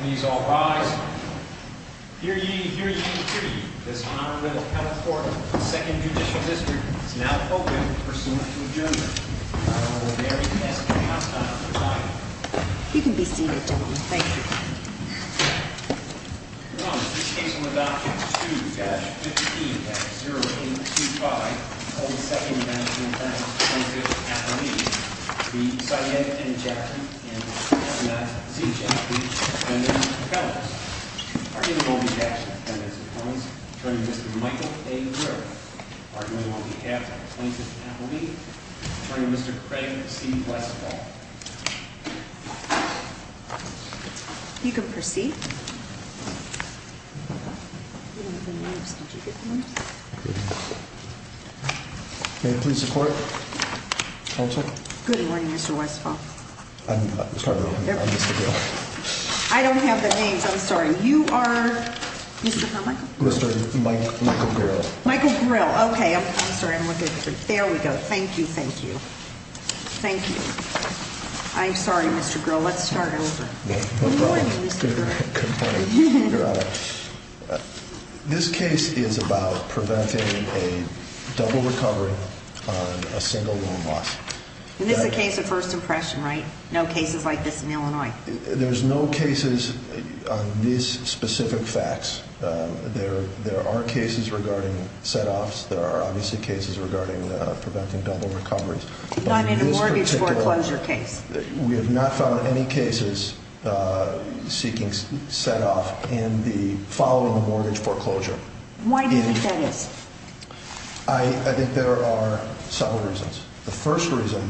Please all rise. Hear ye, hear ye, hear ye. This Honorable Counsel Court of the Second Judicial District is now open pursuant to adjournment. The Honorable Larry S. Haslam presiding. You can be seated, gentlemen. Thank you. Your Honors, this case will adopt Chapter 2-15-0825 of the Second National Bank v. Jafry. We decided to end Chapter 2-15-0825 of the Second National Bank v. Jafry by sending Mr. Kellogg's. Arguing on behalf of the Dependents of Commons, Attorney Mr. Michael A. Brewer. Arguing on behalf of the Places and Appellees, Attorney Mr. Craig C. Westphal. You can proceed. May I please report, Counsel? Good morning, Mr. Westphal. I'm sorry, I'm Mr. Grill. I don't have the names, I'm sorry. You are? Mr. Michael? Mr. Michael Grill. Michael Grill, okay. I'm sorry, I'm looking for you. There we go. Thank you, thank you. Thank you. I'm sorry, Mr. Grill. Let's start over. Good morning, Mr. Grill. Good morning, Your Honor. This case is about preventing a double recovery on a single loan loss. And this is a case of first impression, right? No cases like this in Illinois. There's no cases on these specific facts. There are cases regarding set-offs. There are obviously cases regarding preventing double recoveries. Not in a mortgage foreclosure case. We have not found any cases seeking set-off in the following mortgage foreclosure. Why do you think that is? I think there are several reasons. The first reason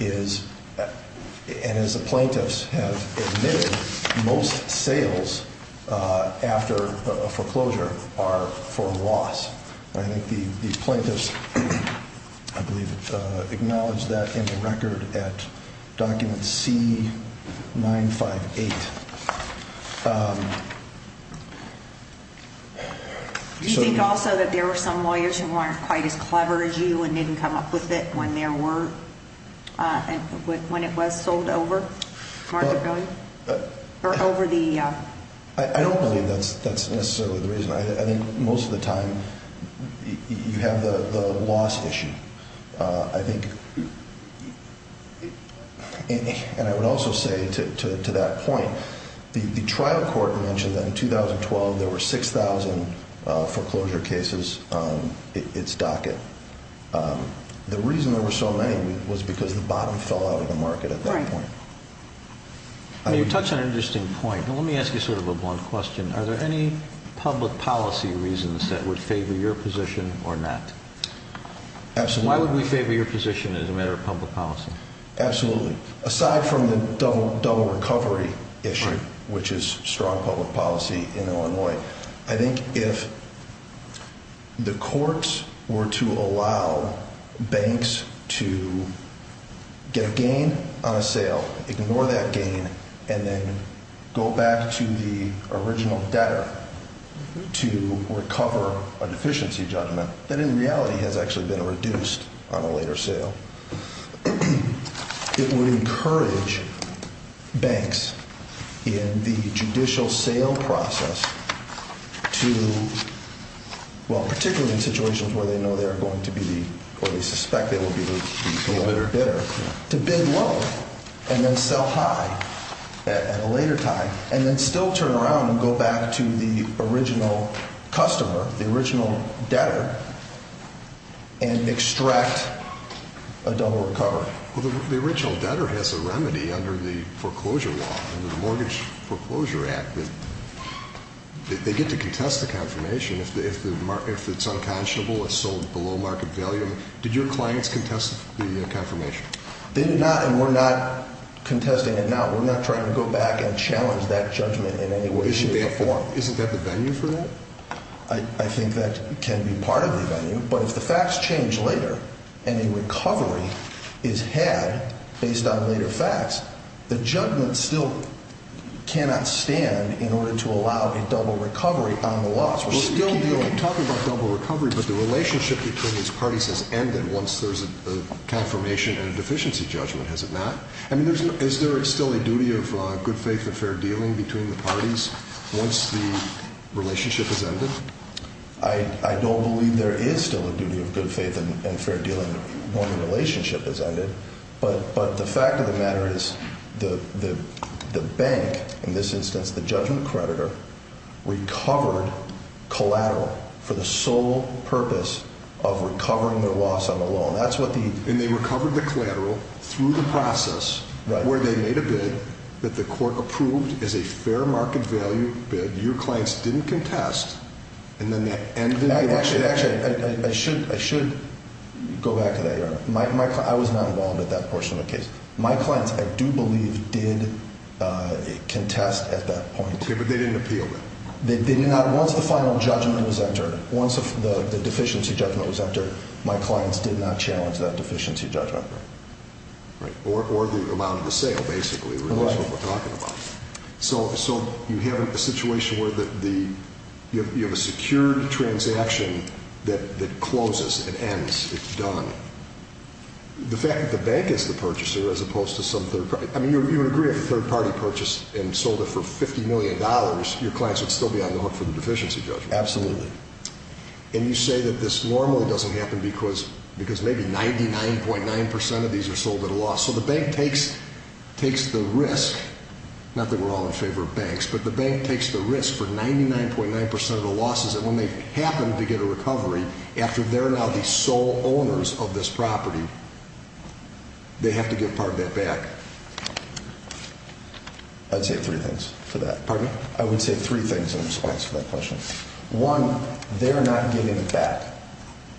is, and as the plaintiffs have admitted, most sales after a foreclosure are for loss. I think the plaintiffs, I believe, acknowledge that in the record at document C958. Do you think also that there were some lawyers who weren't quite as clever as you and didn't come up with it when there were, when it was sold over? I don't believe that's necessarily the reason. I think most of the time you have the loss issue. I think, and I would also say to that point, the trial court mentioned that in 2012 there were 6,000 foreclosure cases on its docket. The reason there were so many was because the bottom fell out of the market at that point. You touch on an interesting point, but let me ask you sort of a blunt question. Are there any public policy reasons that would favor your position or not? Absolutely. Why would we favor your position as a matter of public policy? Absolutely. Aside from the double recovery issue, which is strong public policy in Illinois, I think if the courts were to allow banks to get a gain on a sale, ignore that gain, and then go back to the original debtor to recover a deficiency judgment, that in reality has actually been reduced on a later sale, it would encourage banks in the judicial sale process to, well, particularly in situations where they know they are going to be, or they suspect they will be the bidder, to bid low and then sell high at a later time and then still turn around and go back to the original customer, the original debtor, and extract a double recovery. Well, the original debtor has a remedy under the foreclosure law, under the Mortgage Foreclosure Act that they get to contest the confirmation if it's unconscionable, it's sold below market value. Did your clients contest the confirmation? They did not, and we're not contesting it now. We're not trying to go back and challenge that judgment in any way, shape, or form. Isn't that the venue for that? I think that can be part of the venue, but if the facts change later and a recovery is had based on later facts, the judgment still cannot stand in order to allow a double recovery on the loss. We're still talking about double recovery, but the relationship between these parties has ended once there's a confirmation and a deficiency judgment, has it not? I mean, is there still a duty of good faith and fair dealing between the parties once the relationship has ended? I don't believe there is still a duty of good faith and fair dealing when the relationship has ended, but the fact of the matter is the bank, in this instance, the judgment creditor, recovered collateral for the sole purpose of recovering their loss on the loan. And they recovered the collateral through the process where they made a bid that the court approved as a fair market value bid, your clients didn't contest, and then they ended the deal. Actually, I should go back to that, Your Honor. I was not involved in that portion of the case. My clients, I do believe, did contest at that point. Okay, but they didn't appeal then? They did not. Once the final judgment was entered, once the deficiency judgment was entered, my clients did not challenge that deficiency judgment. Right. Or the amount of the sale, basically, the relationship we're talking about. Right. So you have a situation where you have a secured transaction that closes and ends. It's done. The fact that the bank is the purchaser as opposed to some third party. I mean, you would agree if a third party purchased and sold it for $50 million, your clients would still be on the hook for the deficiency judgment. Absolutely. And you say that this normally doesn't happen because maybe 99.9% of these are sold at a loss. So the bank takes the risk, not that we're all in favor of banks, but the bank takes the risk for 99.9% of the losses that when they happen to get a recovery, after they're now the sole owners of this property, they have to give part of that back. I'd say three things for that. Pardon me? I would say three things in response to that question. One, they're not giving it back.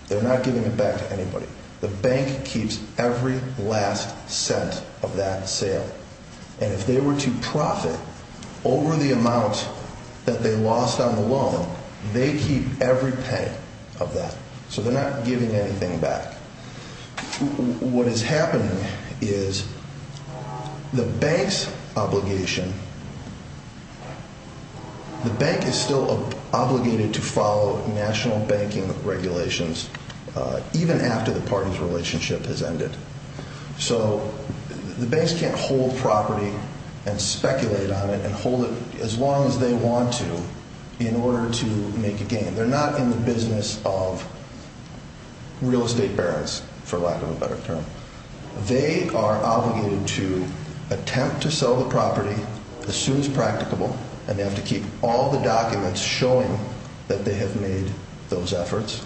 They're not giving it back to anybody. The bank keeps every last cent of that sale. And if they were to profit over the amount that they lost on the loan, they keep every penny of that. So they're not giving anything back. What has happened is the bank's obligation, the bank is still obligated to follow national banking regulations, even after the party's relationship has ended. So the banks can't hold property and speculate on it and hold it as long as they want to in order to make a gain. They're not in the business of real estate barons, for lack of a better term. They are obligated to attempt to sell the property as soon as practicable, and they have to keep all the documents showing that they have made those efforts.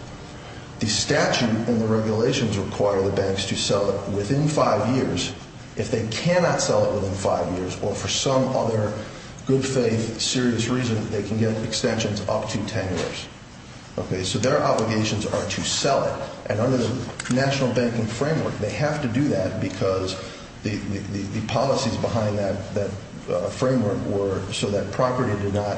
The statute and the regulations require the banks to sell it within five years. If they cannot sell it within five years, or for some other good faith serious reason, they can get extensions up to ten years. So their obligations are to sell it. And under the national banking framework, they have to do that because the policies behind that framework were so that property did not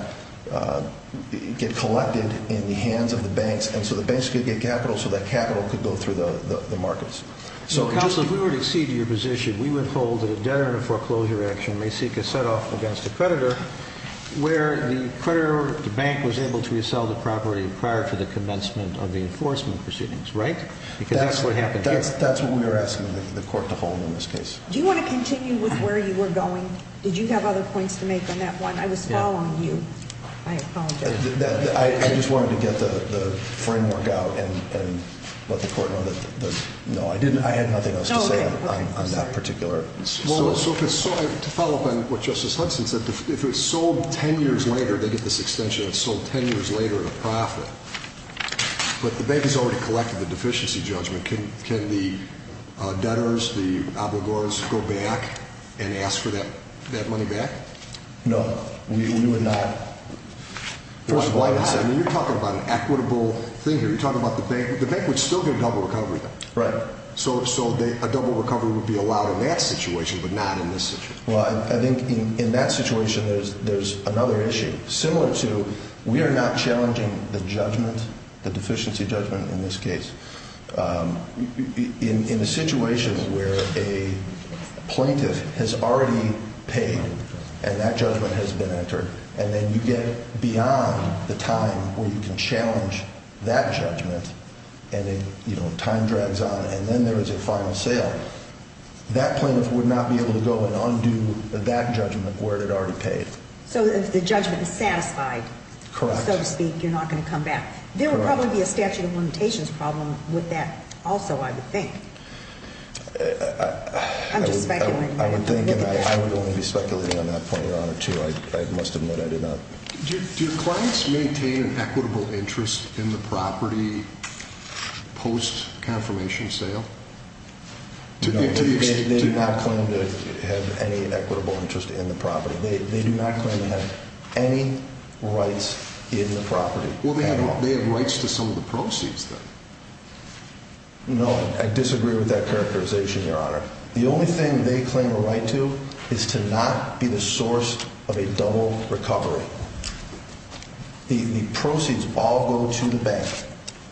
get collected in the hands of the banks, and so the banks could get capital so that capital could go through the markets. Counsel, if we were to accede to your position, we would hold that a debtor in a foreclosure action may seek a set-off against a creditor where the creditor or the bank was able to sell the property prior to the commencement of the enforcement proceedings, right? Because that's what happened here. That's what we were asking the court to hold in this case. Do you want to continue with where you were going? Did you have other points to make on that one? I was following you. I apologize. I just wanted to get the framework out and let the court know that, no, I had nothing else to say on that particular. To follow up on what Justice Hudson said, if it's sold ten years later, they get this extension that's sold ten years later at a profit, but the bank has already collected the deficiency judgment, can the debtors, the obligors, go back and ask for that money back? No, we would not. You're talking about an equitable thing here. You're talking about the bank. The bank would still get a double recovery, though. Right. So a double recovery would be allowed in that situation but not in this situation. Well, I think in that situation there's another issue. Similar to we are not challenging the judgment, the deficiency judgment in this case. In a situation where a plaintiff has already paid and that judgment has been entered and then you get beyond the time where you can challenge that judgment and then time drags on and then there is a final sale, that plaintiff would not be able to go and undo that judgment where it had already paid. So if the judgment is satisfied, so to speak, you're not going to come back. Correct. There would probably be a statute of limitations problem with that also, I would think. I'm just speculating. I would think and I would only be speculating on that point of honor, too. I must admit I did not. Do your clients maintain an equitable interest in the property post-confirmation sale? No, they do not claim to have any equitable interest in the property. They do not claim to have any rights in the property at all. Well, they have rights to some of the proceeds, then. No, I disagree with that characterization, Your Honor. The only thing they claim a right to is to not be the source of a double recovery. The proceeds all go to the bank.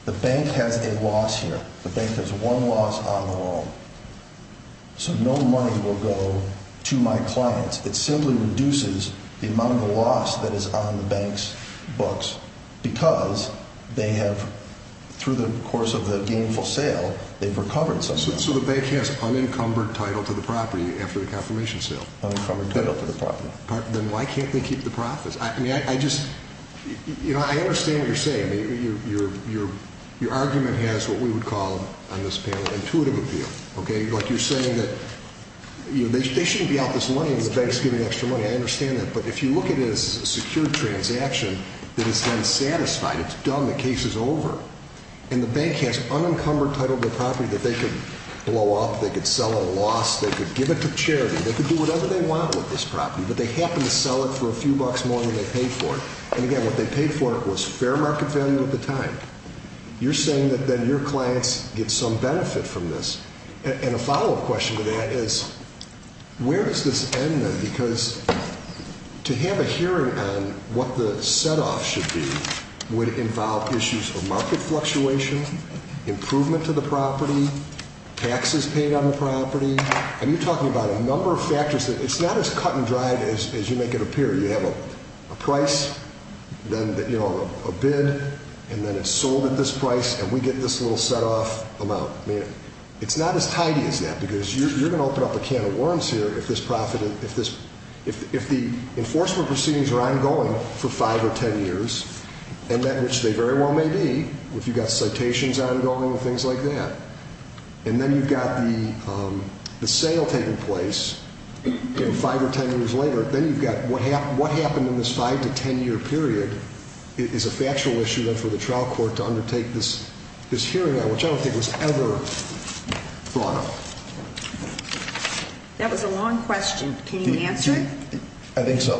The bank has a loss here. The bank has one loss on their own. So no money will go to my clients. It simply reduces the amount of the loss that is on the bank's books because they have, through the course of the gainful sale, they've recovered something. So the bank has unencumbered title to the property after the confirmation sale? Unencumbered title to the property. Then why can't they keep the profits? I mean, I just, you know, I understand what you're saying. Your argument has what we would call on this panel intuitive appeal. Okay? Like you're saying that they shouldn't be out this money until the bank is giving extra money. I understand that. But if you look at it as a secured transaction, then it's then satisfied. It's done. The case is over. And the bank has unencumbered title to the property that they could blow up, they could sell at a loss, they could give it to charity, they could do whatever they want with this property, but they happen to sell it for a few bucks more than they paid for it. And, again, what they paid for it was fair market value at the time. You're saying that then your clients get some benefit from this. And a follow-up question to that is where does this end then? Because to have a hearing on what the set-off should be would involve issues of market fluctuation, improvement to the property, taxes paid on the property. And you're talking about a number of factors. It's not as cut and dried as you make it appear. You have a price, then, you know, a bid, and then it's sold at this price, and we get this little set-off amount. I mean, it's not as tidy as that because you're going to open up a can of worms here if the enforcement proceedings are ongoing for five or ten years, and that which they very well may be, if you've got citations ongoing and things like that. And then you've got the sale taking place five or ten years later. Then you've got what happened in this five- to ten-year period is a factual issue, for the trial court to undertake this hearing on, which I don't think was ever brought up. That was a long question. Can you answer it? I think so.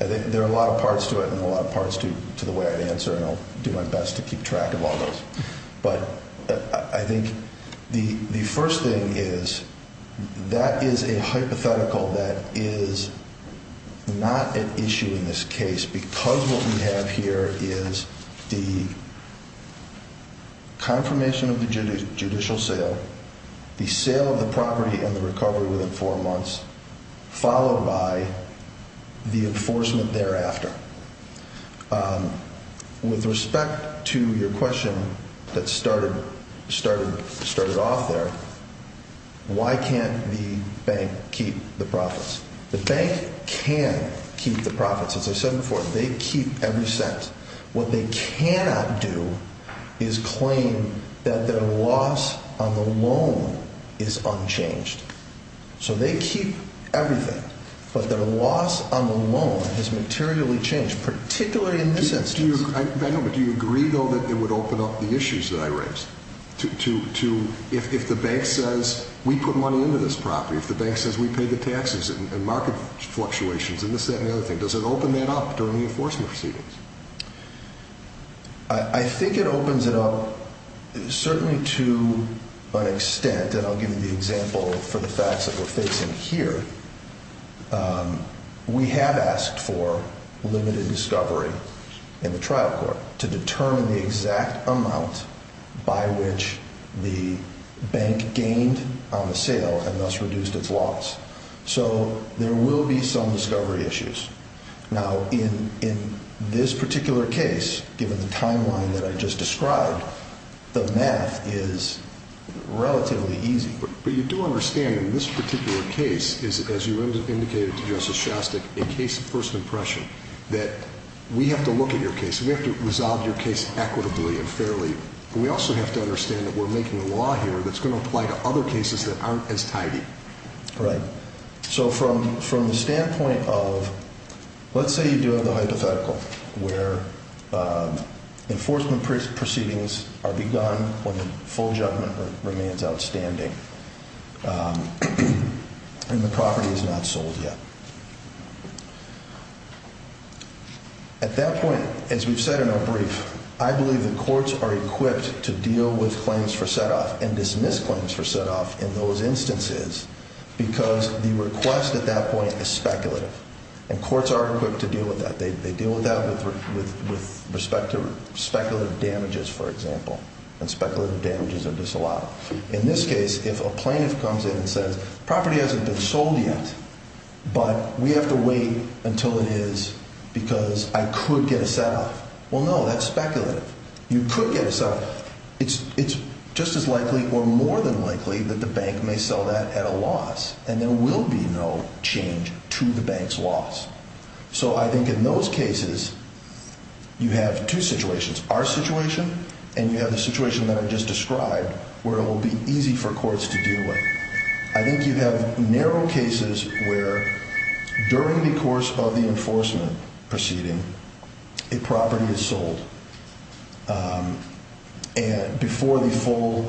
I think there are a lot of parts to it and a lot of parts to the way I'd answer, and I'll do my best to keep track of all those. But I think the first thing is that is a hypothetical that is not an issue in this case because what we have here is the confirmation of the judicial sale, the sale of the property and the recovery within four months, followed by the enforcement thereafter. With respect to your question that started off there, why can't the bank keep the profits? The bank can keep the profits. As I said before, they keep every cent. What they cannot do is claim that their loss on the loan is unchanged. So they keep everything, but their loss on the loan has materially changed, particularly in this instance. Do you agree, though, that it would open up the issues that I raised? If the bank says we put money into this property, if the bank says we pay the taxes and market fluctuations, and this, that, and the other thing, does it open that up during the enforcement proceedings? I think it opens it up certainly to an extent, and I'll give you the example for the facts that we're facing here. We have asked for limited discovery in the trial court to determine the exact amount by which the bank gained on the sale and thus reduced its loss. So there will be some discovery issues. Now, in this particular case, given the timeline that I just described, the math is relatively easy. But you do understand in this particular case, as you indicated to Justice Shostak, a case of first impression, that we have to look at your case, we have to resolve your case equitably and fairly, but we also have to understand that we're making a law here that's going to apply to other cases that aren't as tidy. Right. So from the standpoint of, let's say you do have the hypothetical, where enforcement proceedings are begun when the full judgment remains outstanding and the property is not sold yet. At that point, as we've said in our brief, I believe the courts are equipped to deal with claims for set-off and dismiss claims for set-off in those instances because the request at that point is speculative, and courts are equipped to deal with that. They deal with that with respect to speculative damages, for example, and speculative damages are disallowed. In this case, if a plaintiff comes in and says, property hasn't been sold yet, but we have to wait until it is because I could get a set-off. Well, no, that's speculative. You could get a set-off. It's just as likely or more than likely that the bank may sell that at a loss, and there will be no change to the bank's loss. So I think in those cases, you have two situations, our situation and you have the situation that I just described, where it will be easy for courts to deal with. I think you have narrow cases where during the course of the enforcement proceeding, a property is sold before the full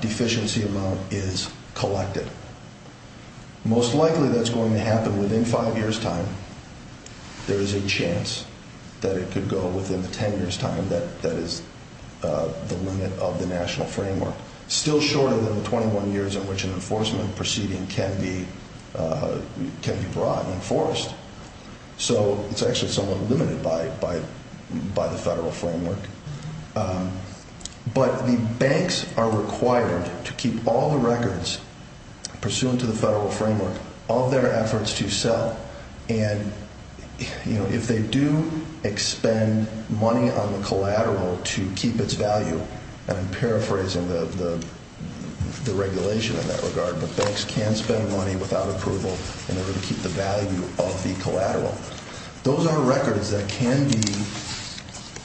deficiency amount is collected. Most likely that's going to happen within five years' time. There is a chance that it could go within the 10 years' time. That is the limit of the national framework. Still shorter than the 21 years in which an enforcement proceeding can be brought and enforced. So it's actually somewhat limited by the federal framework. But the banks are required to keep all the records pursuant to the federal framework of their efforts to sell, and if they do expend money on the collateral to keep its value, and I'm paraphrasing the regulation in that regard, but banks can spend money without approval in order to keep the value of the collateral. Those are records that can be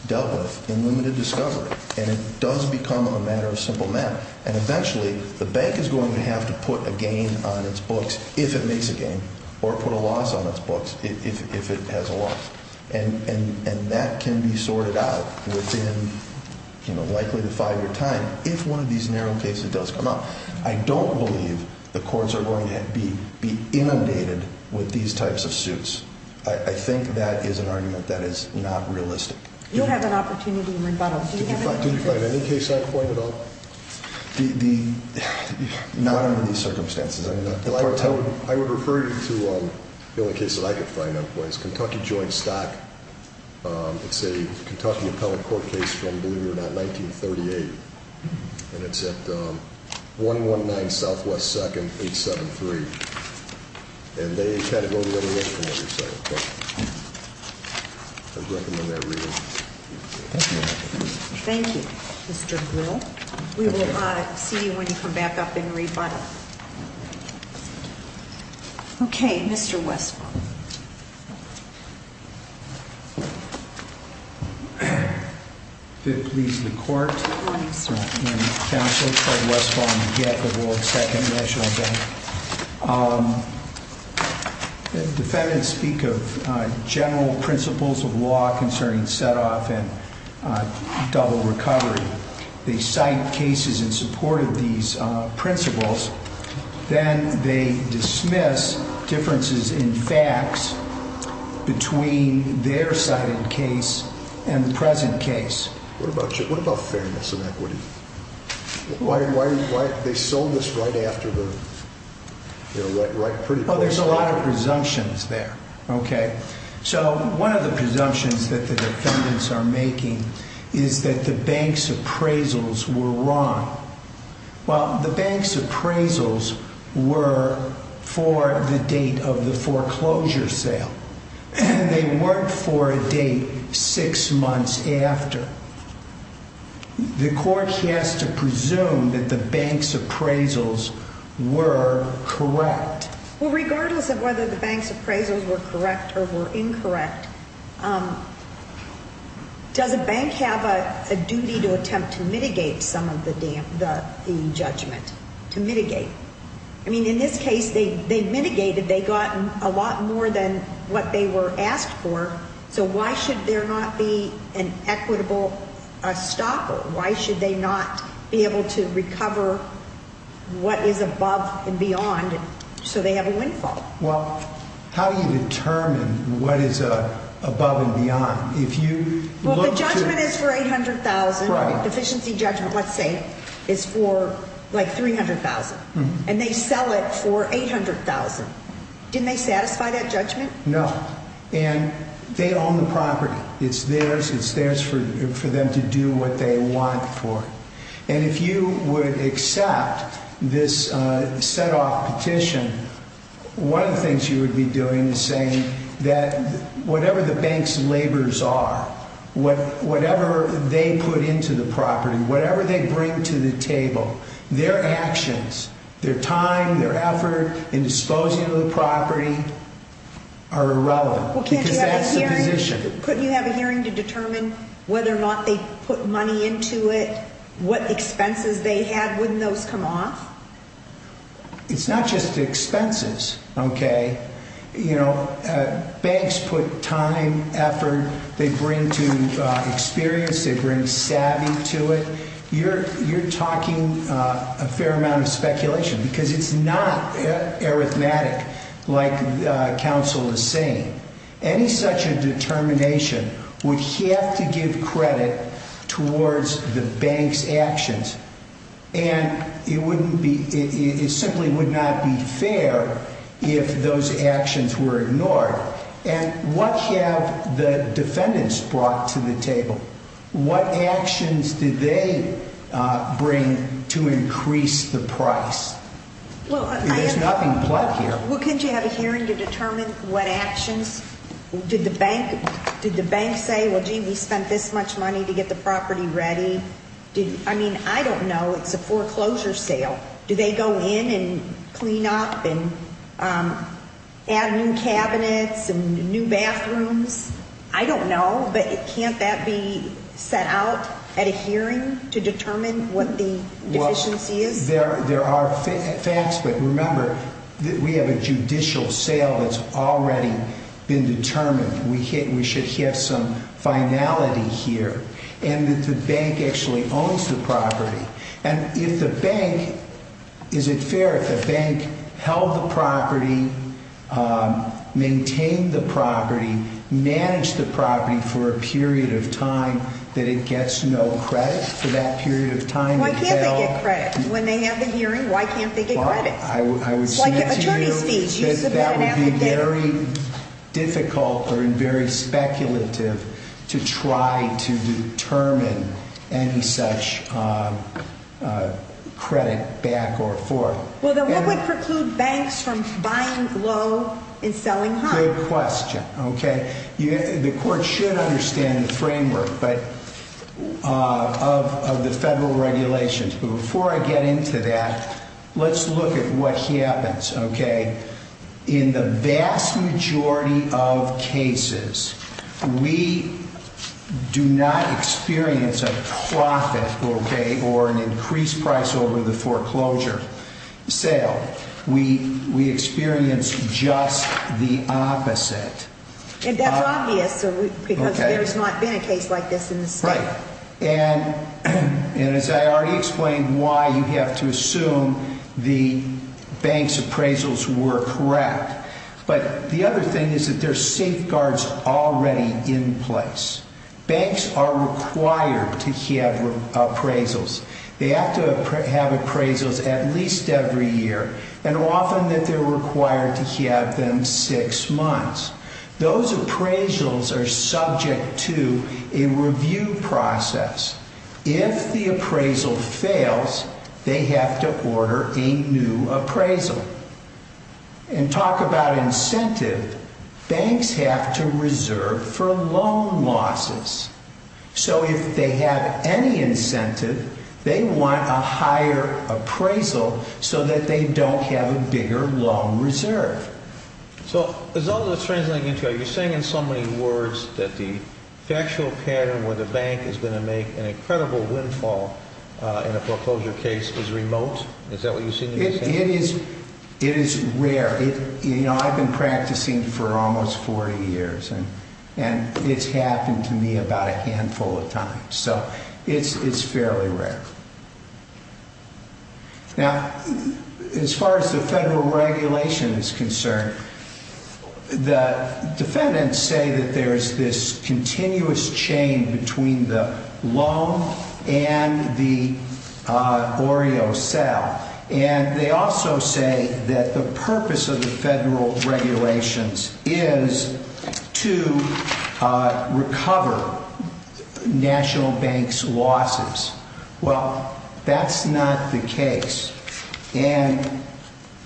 dealt with in limited discovery, and it does become a matter of simple math, and eventually the bank is going to have to put a gain on its books if it makes a gain, or put a loss on its books if it has a loss, and that can be sorted out within likely the five-year time if one of these narrow cases does come up. I don't believe the courts are going to be inundated with these types of suits. I think that is an argument that is not realistic. You'll have an opportunity in rebuttal. Did you find any case I pointed out? Not under these circumstances. I would refer you to the only case that I could find out was Kentucky Joint Stock. It's a Kentucky appellate court case from, believe it or not, 1938, and it's at 119 Southwest 2nd, 873, and they categorize it as a record setter. I'd recommend that reading. Thank you, Mr. Brill. We will see you when you come back up in rebuttal. Okay, Mr. Westphal. If it pleases the Court, I'm counsel Fred Westphal, I'm the head of the World Second National Bank. Defendants speak of general principles of law concerning set-off and double recovery. They cite cases in support of these principles. Then they dismiss differences in facts between their cited case and the present case. What about fairness and equity? Why did they sell this right after the, you know, right pretty close to it? Well, there's a lot of presumptions there, okay? So one of the presumptions that the defendants are making is that the bank's appraisals were wrong. Well, the bank's appraisals were for the date of the foreclosure sale. They weren't for a date six months after. The Court has to presume that the bank's appraisals were correct. Well, regardless of whether the bank's appraisals were correct or were incorrect, does a bank have a duty to attempt to mitigate some of the judgment, to mitigate? I mean, in this case, they mitigated. They got a lot more than what they were asked for. So why should there not be an equitable stopper? Why should they not be able to recover what is above and beyond so they have a windfall? Well, how do you determine what is above and beyond? Well, the judgment is for $800,000. Efficiency judgment, let's say, is for like $300,000. And they sell it for $800,000. Didn't they satisfy that judgment? No. And they own the property. It's theirs. It's theirs for them to do what they want for it. And if you would accept this set-off petition, one of the things you would be doing is saying that whatever the bank's labors are, whatever they put into the property, whatever they bring to the table, their actions, their time, their effort in disposing of the property are irrelevant because that's the position. Couldn't you have a hearing to determine whether or not they put money into it, what expenses they had? Wouldn't those come off? It's not just expenses, okay? You know, banks put time, effort. They bring to experience. They bring savvy to it. You're talking a fair amount of speculation because it's not arithmetic like counsel is saying. Any such a determination would have to give credit towards the bank's actions, and it simply would not be fair if those actions were ignored. And what have the defendants brought to the table? What actions did they bring to increase the price? There's nothing plot here. Well, couldn't you have a hearing to determine what actions? Did the bank say, well, gee, we spent this much money to get the property ready? I mean, I don't know. It's a foreclosure sale. Do they go in and clean up and add new cabinets and new bathrooms? I don't know, but can't that be set out at a hearing to determine what the deficiency is? There are facts, but remember that we have a judicial sale that's already been determined. We should have some finality here and that the bank actually owns the property. And if the bank, is it fair if the bank held the property, maintained the property, managed the property for a period of time that it gets no credit for that period of time? Why can't they get credit? When they have the hearing, why can't they get credit? I would say to you that that would be very difficult or very speculative to try to determine any such credit back or forth. Well, then what would preclude banks from buying low and selling high? Good question. The court should understand the framework of the federal regulations. But before I get into that, let's look at what happens. In the vast majority of cases, we do not experience a profit or an increased price over the foreclosure sale. We experience just the opposite. And that's obvious because there's not been a case like this in the state. Right. And as I already explained, why you have to assume the bank's appraisals were correct. But the other thing is that there's safeguards already in place. Banks are required to have appraisals. They have to have appraisals at least every year and often that they're required to have them six months. Those appraisals are subject to a review process. If the appraisal fails, they have to order a new appraisal. And talk about incentive. Banks have to reserve for loan losses. So if they have any incentive, they want a higher appraisal so that they don't have a bigger loan reserve. So as long as it's translating into, are you saying in so many words that the factual pattern where the bank is going to make an incredible windfall in a foreclosure case is remote? Is that what you're saying? It is rare. I've been practicing for almost 40 years. And it's happened to me about a handful of times. So it's fairly rare. Now, as far as the federal regulation is concerned, the defendants say that there is this continuous chain between the loan and the Oreo sale. And they also say that the purpose of the federal regulations is to recover national banks losses. Well, that's not the case. And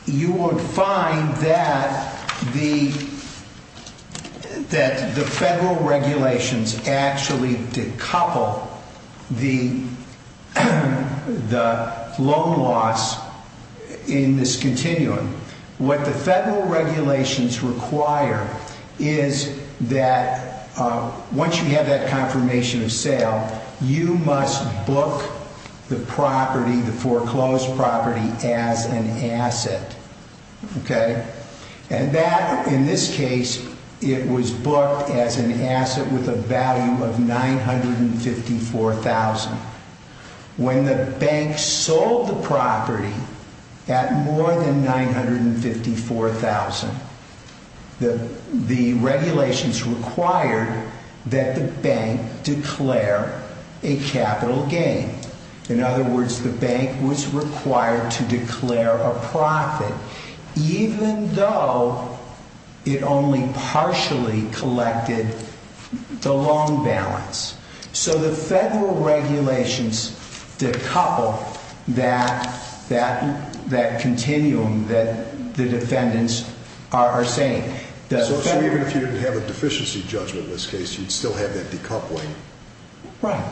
you will find that the federal regulations actually decouple the loan loss in this continuum. What the federal regulations require is that once you have that confirmation of sale, you must book the property, the foreclosed property, as an asset. And that, in this case, it was booked as an asset with a value of $954,000. When the bank sold the property at more than $954,000, the regulations required that the bank declare a capital gain. In other words, the bank was required to declare a profit, even though it only partially collected the loan balance. So the federal regulations decouple that continuum that the defendants are saying. So even if you didn't have a deficiency judgment in this case, you'd still have that decoupling? Right.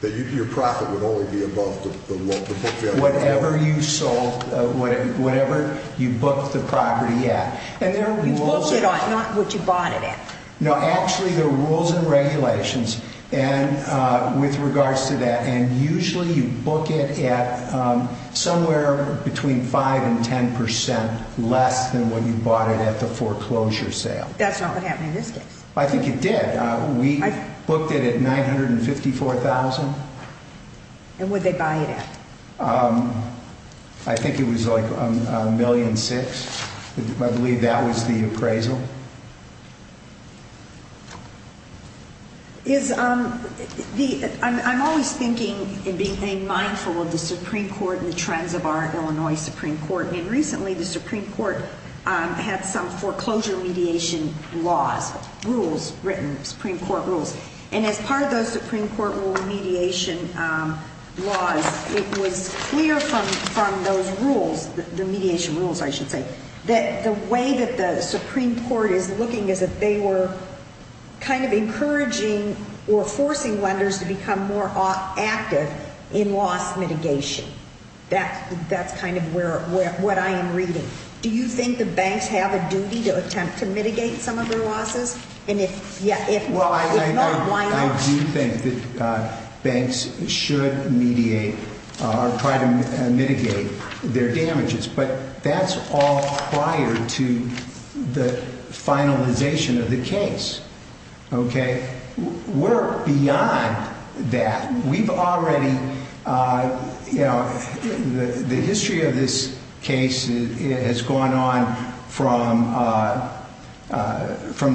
That your profit would only be above the book value? Whatever you sold, whatever you booked the property at. You booked it on, not what you bought it at. No, actually the rules and regulations with regards to that, and usually you book it at somewhere between 5% and 10% less than what you bought it at the foreclosure sale. That's not what happened in this case. I think it did. We booked it at $954,000. And what did they buy it at? I think it was like $1.6 million. I believe that was the appraisal. I'm always thinking and being mindful of the Supreme Court and the trends of our Illinois Supreme Court. And recently the Supreme Court had some foreclosure mediation laws, rules written, Supreme Court rules. And as part of those Supreme Court rule mediation laws, it was clear from those rules, the mediation rules I should say, that the way that the Supreme Court is looking is that they were kind of encouraging or forcing lenders to become more active in loss mitigation. That's kind of what I am reading. Do you think the banks have a duty to attempt to mitigate some of their losses? Well, I do think that banks should mediate or try to mitigate their damages. But that's all prior to the finalization of the case. Okay? We're beyond that. We've already, you know, the history of this case has gone on from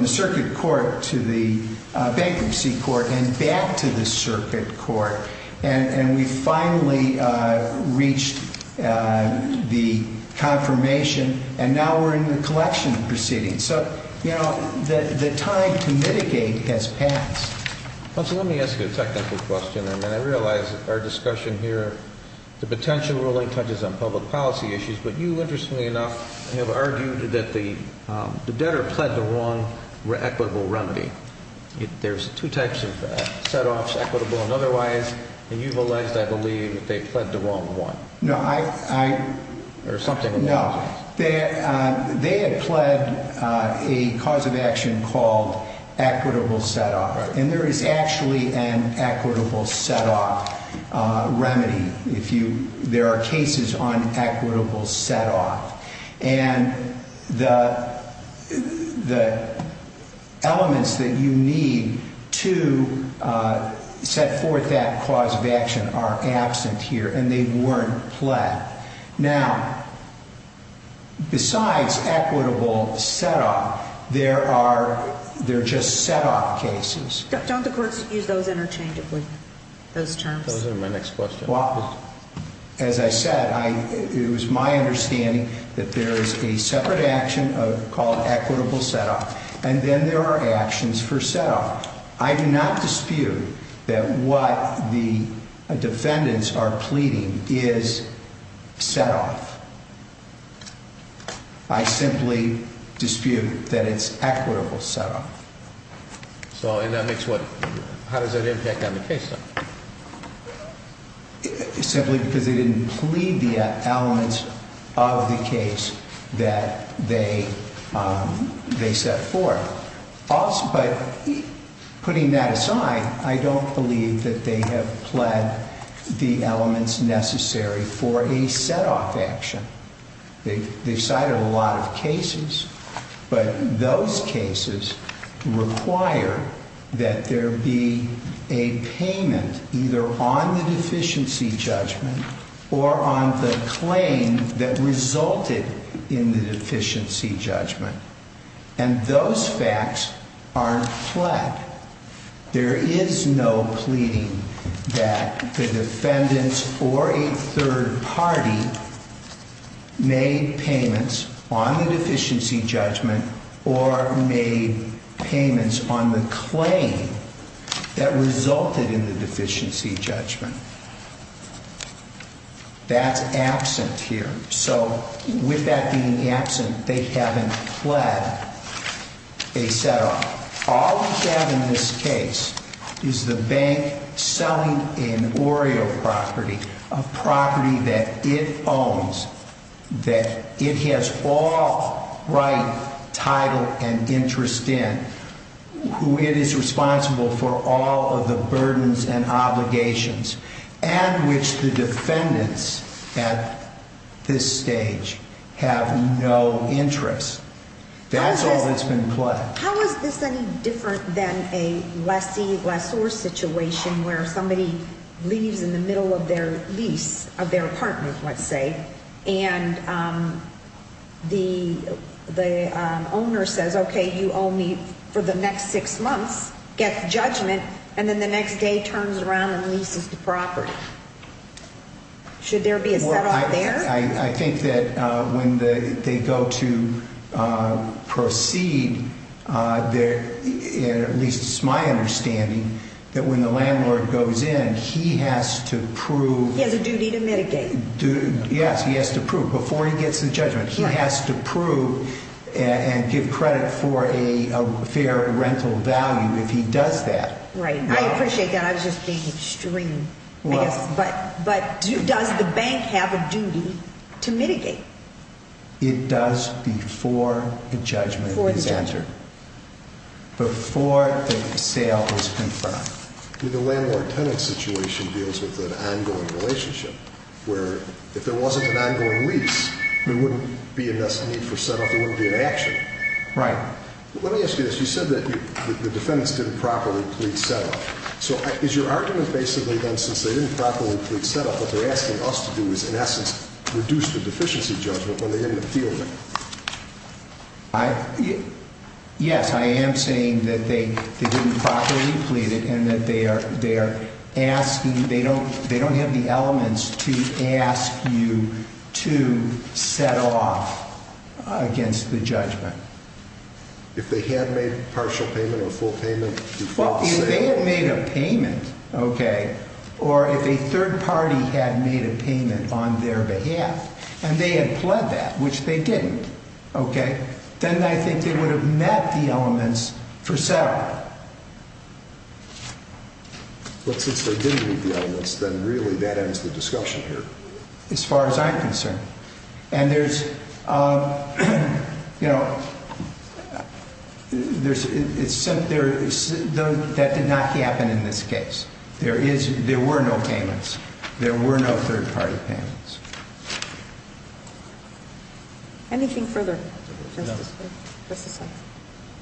the circuit court to the bankruptcy court and back to the circuit court. And we finally reached the confirmation. And now we're in the collection proceeding. So, you know, the time to mitigate has passed. Counsel, let me ask you a technical question. And I realize our discussion here, the potential ruling touches on public policy issues. But you, interestingly enough, have argued that the debtor pled the wrong equitable remedy. There's two types of setoffs, equitable and otherwise. And you've alleged, I believe, that they pled the wrong one. No, I – Or something along those lines. No. They had pled a cause of action called equitable setoff. And there is actually an equitable setoff remedy. If you – there are cases on equitable setoff. And the elements that you need to set forth that cause of action are absent here. And they weren't pled. Now, besides equitable setoff, there are – they're just setoff cases. Don't the courts use those interchangeably, those terms? Those are my next question. Well, as I said, it was my understanding that there is a separate action called equitable setoff. And then there are actions for setoff. I do not dispute that what the defendants are pleading is setoff. I simply dispute that it's equitable setoff. So, and that makes what – how does that impact on the case, then? Simply because they didn't plead the elements of the case that they set forth. But putting that aside, I don't believe that they have pled the elements necessary for a setoff action. They've cited a lot of cases. But those cases require that there be a payment either on the deficiency judgment or on the claim that resulted in the deficiency judgment. And those facts aren't pled. There is no pleading that the defendants or a third party made payments on the deficiency judgment or made payments on the claim that resulted in the deficiency judgment. That's absent here. So, with that being absent, they haven't pled a setoff. All we have in this case is the bank selling an Oreo property, a property that it owns, that it has all right, title, and interest in, who it is responsible for all of the burdens and obligations, and which the defendants at this stage have no interest. That's all that's been pled. How is this any different than a lessee-lessor situation where somebody leaves in the middle of their lease of their apartment, let's say, and the owner says, okay, you owe me for the next six months, gets judgment, and then the next day turns around and leases the property? Should there be a setoff there? I think that when they go to proceed, at least it's my understanding, that when the landlord goes in, he has to prove. He has a duty to mitigate. Yes, he has to prove before he gets the judgment. He has to prove and give credit for a fair rental value if he does that. Right. I appreciate that. I was just being extreme, I guess. But does the bank have a duty to mitigate? It does before the judgment is entered, before the sale is confirmed. The landlord-tenant situation deals with an ongoing relationship where if there wasn't an ongoing lease, there wouldn't be a need for setoff. There wouldn't be an action. Right. Let me ask you this. You said that the defendants didn't properly plead setoff. So is your argument basically then since they didn't properly plead setoff, what they're asking us to do is, in essence, reduce the deficiency judgment when they end up fielding? Yes, I am saying that they didn't properly plead it and that they are asking, they don't have the elements to ask you to set off against the judgment. If they had made partial payment or full payment before the sale? If they had made a payment, okay, or if a third party had made a payment on their behalf and they had pled that, which they didn't, okay, then I think they would have met the elements for setoff. But since they didn't meet the elements, then really that ends the discussion here. And there's, you know, that did not happen in this case. There were no payments. There were no third party payments. Anything further? No.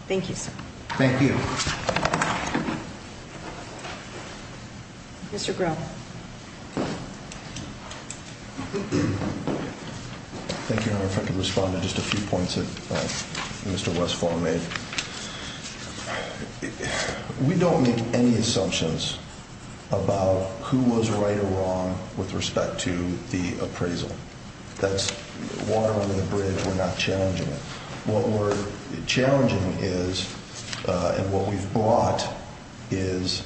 Thank you, sir. Thank you. Thank you. Thank you. Thank you. Thank you. Thank you. Thank you. Thank you. Thank you. Mr. Grubb. Thank you, Your Honor. If I could respond to just a few points that Mr. Westphal made. We don't make any assumptions about who was right or wrong with respect to the appraisal. That's watering the bridge. We're not challenging it. What we're challenging is and what we've brought is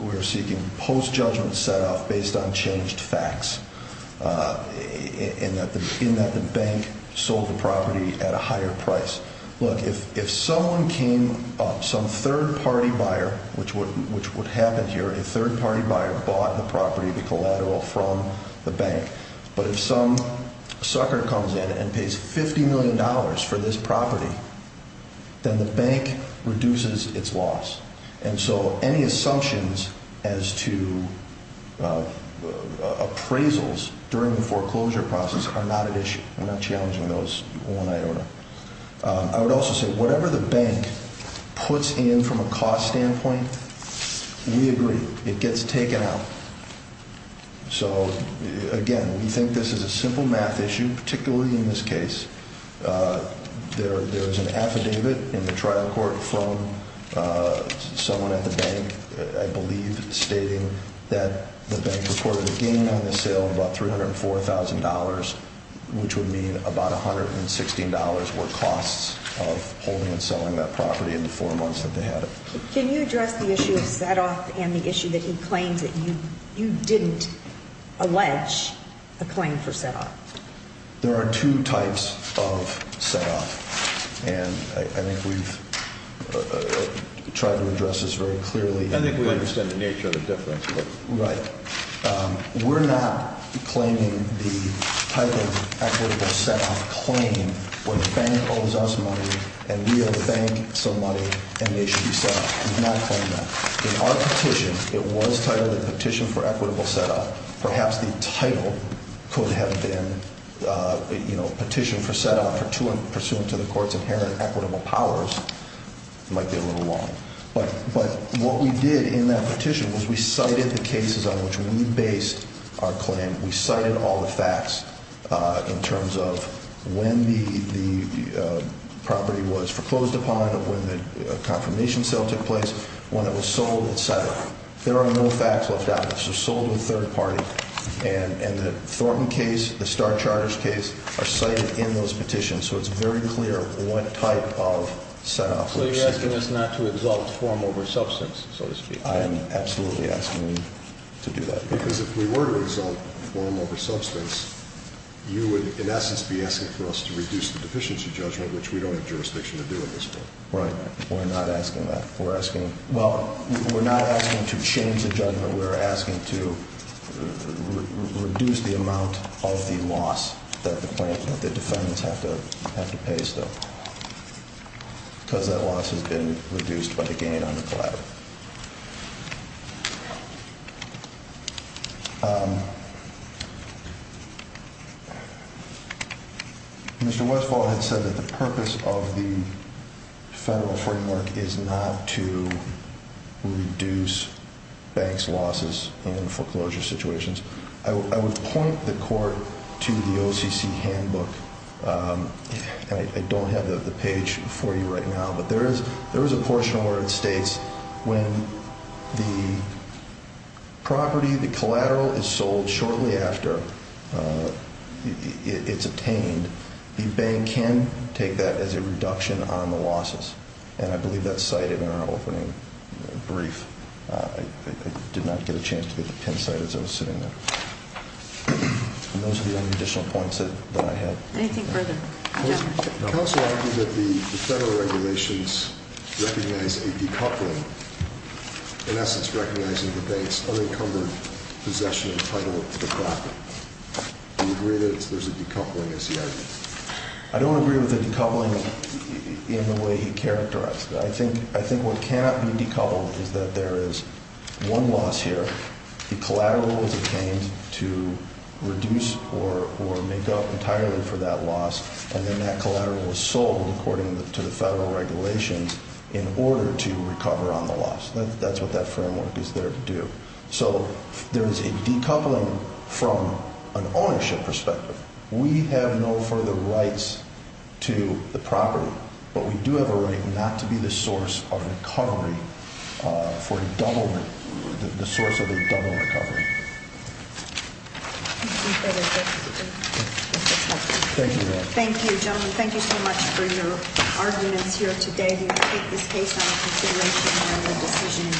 we're seeking post-judgment setoff based on changed facts in that the bank sold the property at a higher price. Look, if someone came, some third party buyer, which would happen here, a third party buyer bought the property, the collateral, from the bank. But if some sucker comes in and pays $50 million for this property, then the bank reduces its loss. And so any assumptions as to appraisals during the foreclosure process are not an issue. We're not challenging those, Your Honor. I would also say whatever the bank puts in from a cost standpoint, we agree, it gets taken out. So, again, we think this is a simple math issue, particularly in this case. There is an affidavit in the trial court from someone at the bank, I believe, stating that the bank reported a gain on the sale of about $304,000, which would mean about $116 were costs of holding and selling that property in the four months that they had it. Can you address the issue of setoff and the issue that he claims that you didn't allege a claim for setoff? There are two types of setoff, and I think we've tried to address this very clearly. I think we understand the nature of the difference. Right. We're not claiming the type of equitable setoff claim where the bank owes us money and we owe the bank some money and they should be set off. We've not claimed that. In our petition, it was titled the Petition for Equitable Setoff. Perhaps the title could have been Petition for Setoff Pursuant to the Court's Inherent Equitable Powers. It might be a little long. But what we did in that petition was we cited the cases on which we based our claim. We cited all the facts in terms of when the property was foreclosed upon, when the confirmation sale took place, when it was sold, et cetera. There are no facts left out. It was sold to a third party, and the Thornton case, the Starr Charters case, are cited in those petitions. So it's very clear what type of setoff we're seeking. So you're asking us not to exalt form over substance, so to speak? I am absolutely asking you to do that. Because if we were to exalt form over substance, you would, in essence, be asking for us to reduce the deficiency judgment, which we don't have jurisdiction to do at this point. Right. We're not asking that. Well, we're not asking to change the judgment. We're asking to reduce the amount of the loss that the plaintiff, that the defendants have to pay still. Because that loss has been reduced by the gain on the collateral. Mr. Westphal has said that the purpose of the federal framework is not to reduce banks' losses in foreclosure situations. I would point the court to the OCC handbook. I don't have the page for you right now, but there is a portion where it states when the property, the collateral, is sold shortly after it's obtained, the bank can take that as a reduction on the losses. And I believe that's cited in our opening brief. I did not get a chance to get the pin cited as I was sitting there. And those are the only additional points that I have. Anything further? Counsel argued that the federal regulations recognize a decoupling, in essence recognizing the bank's unencumbered possession and title of the property. Do you agree that there's a decoupling, is the argument? I don't agree with the decoupling in the way he characterized it. I think what cannot be decoupled is that there is one loss here. The collateral was obtained to reduce or make up entirely for that loss, and then that collateral was sold according to the federal regulations in order to recover on the loss. That's what that framework is there to do. So there is a decoupling from an ownership perspective. We have no further rights to the property, but we do have a right not to be the source of recovery for a double, the source of a double recovery. Thank you. Thank you, gentlemen. Thank you so much for your arguments here today. We will take this case on consideration and make a decision in due course. Have a good day. Thank you.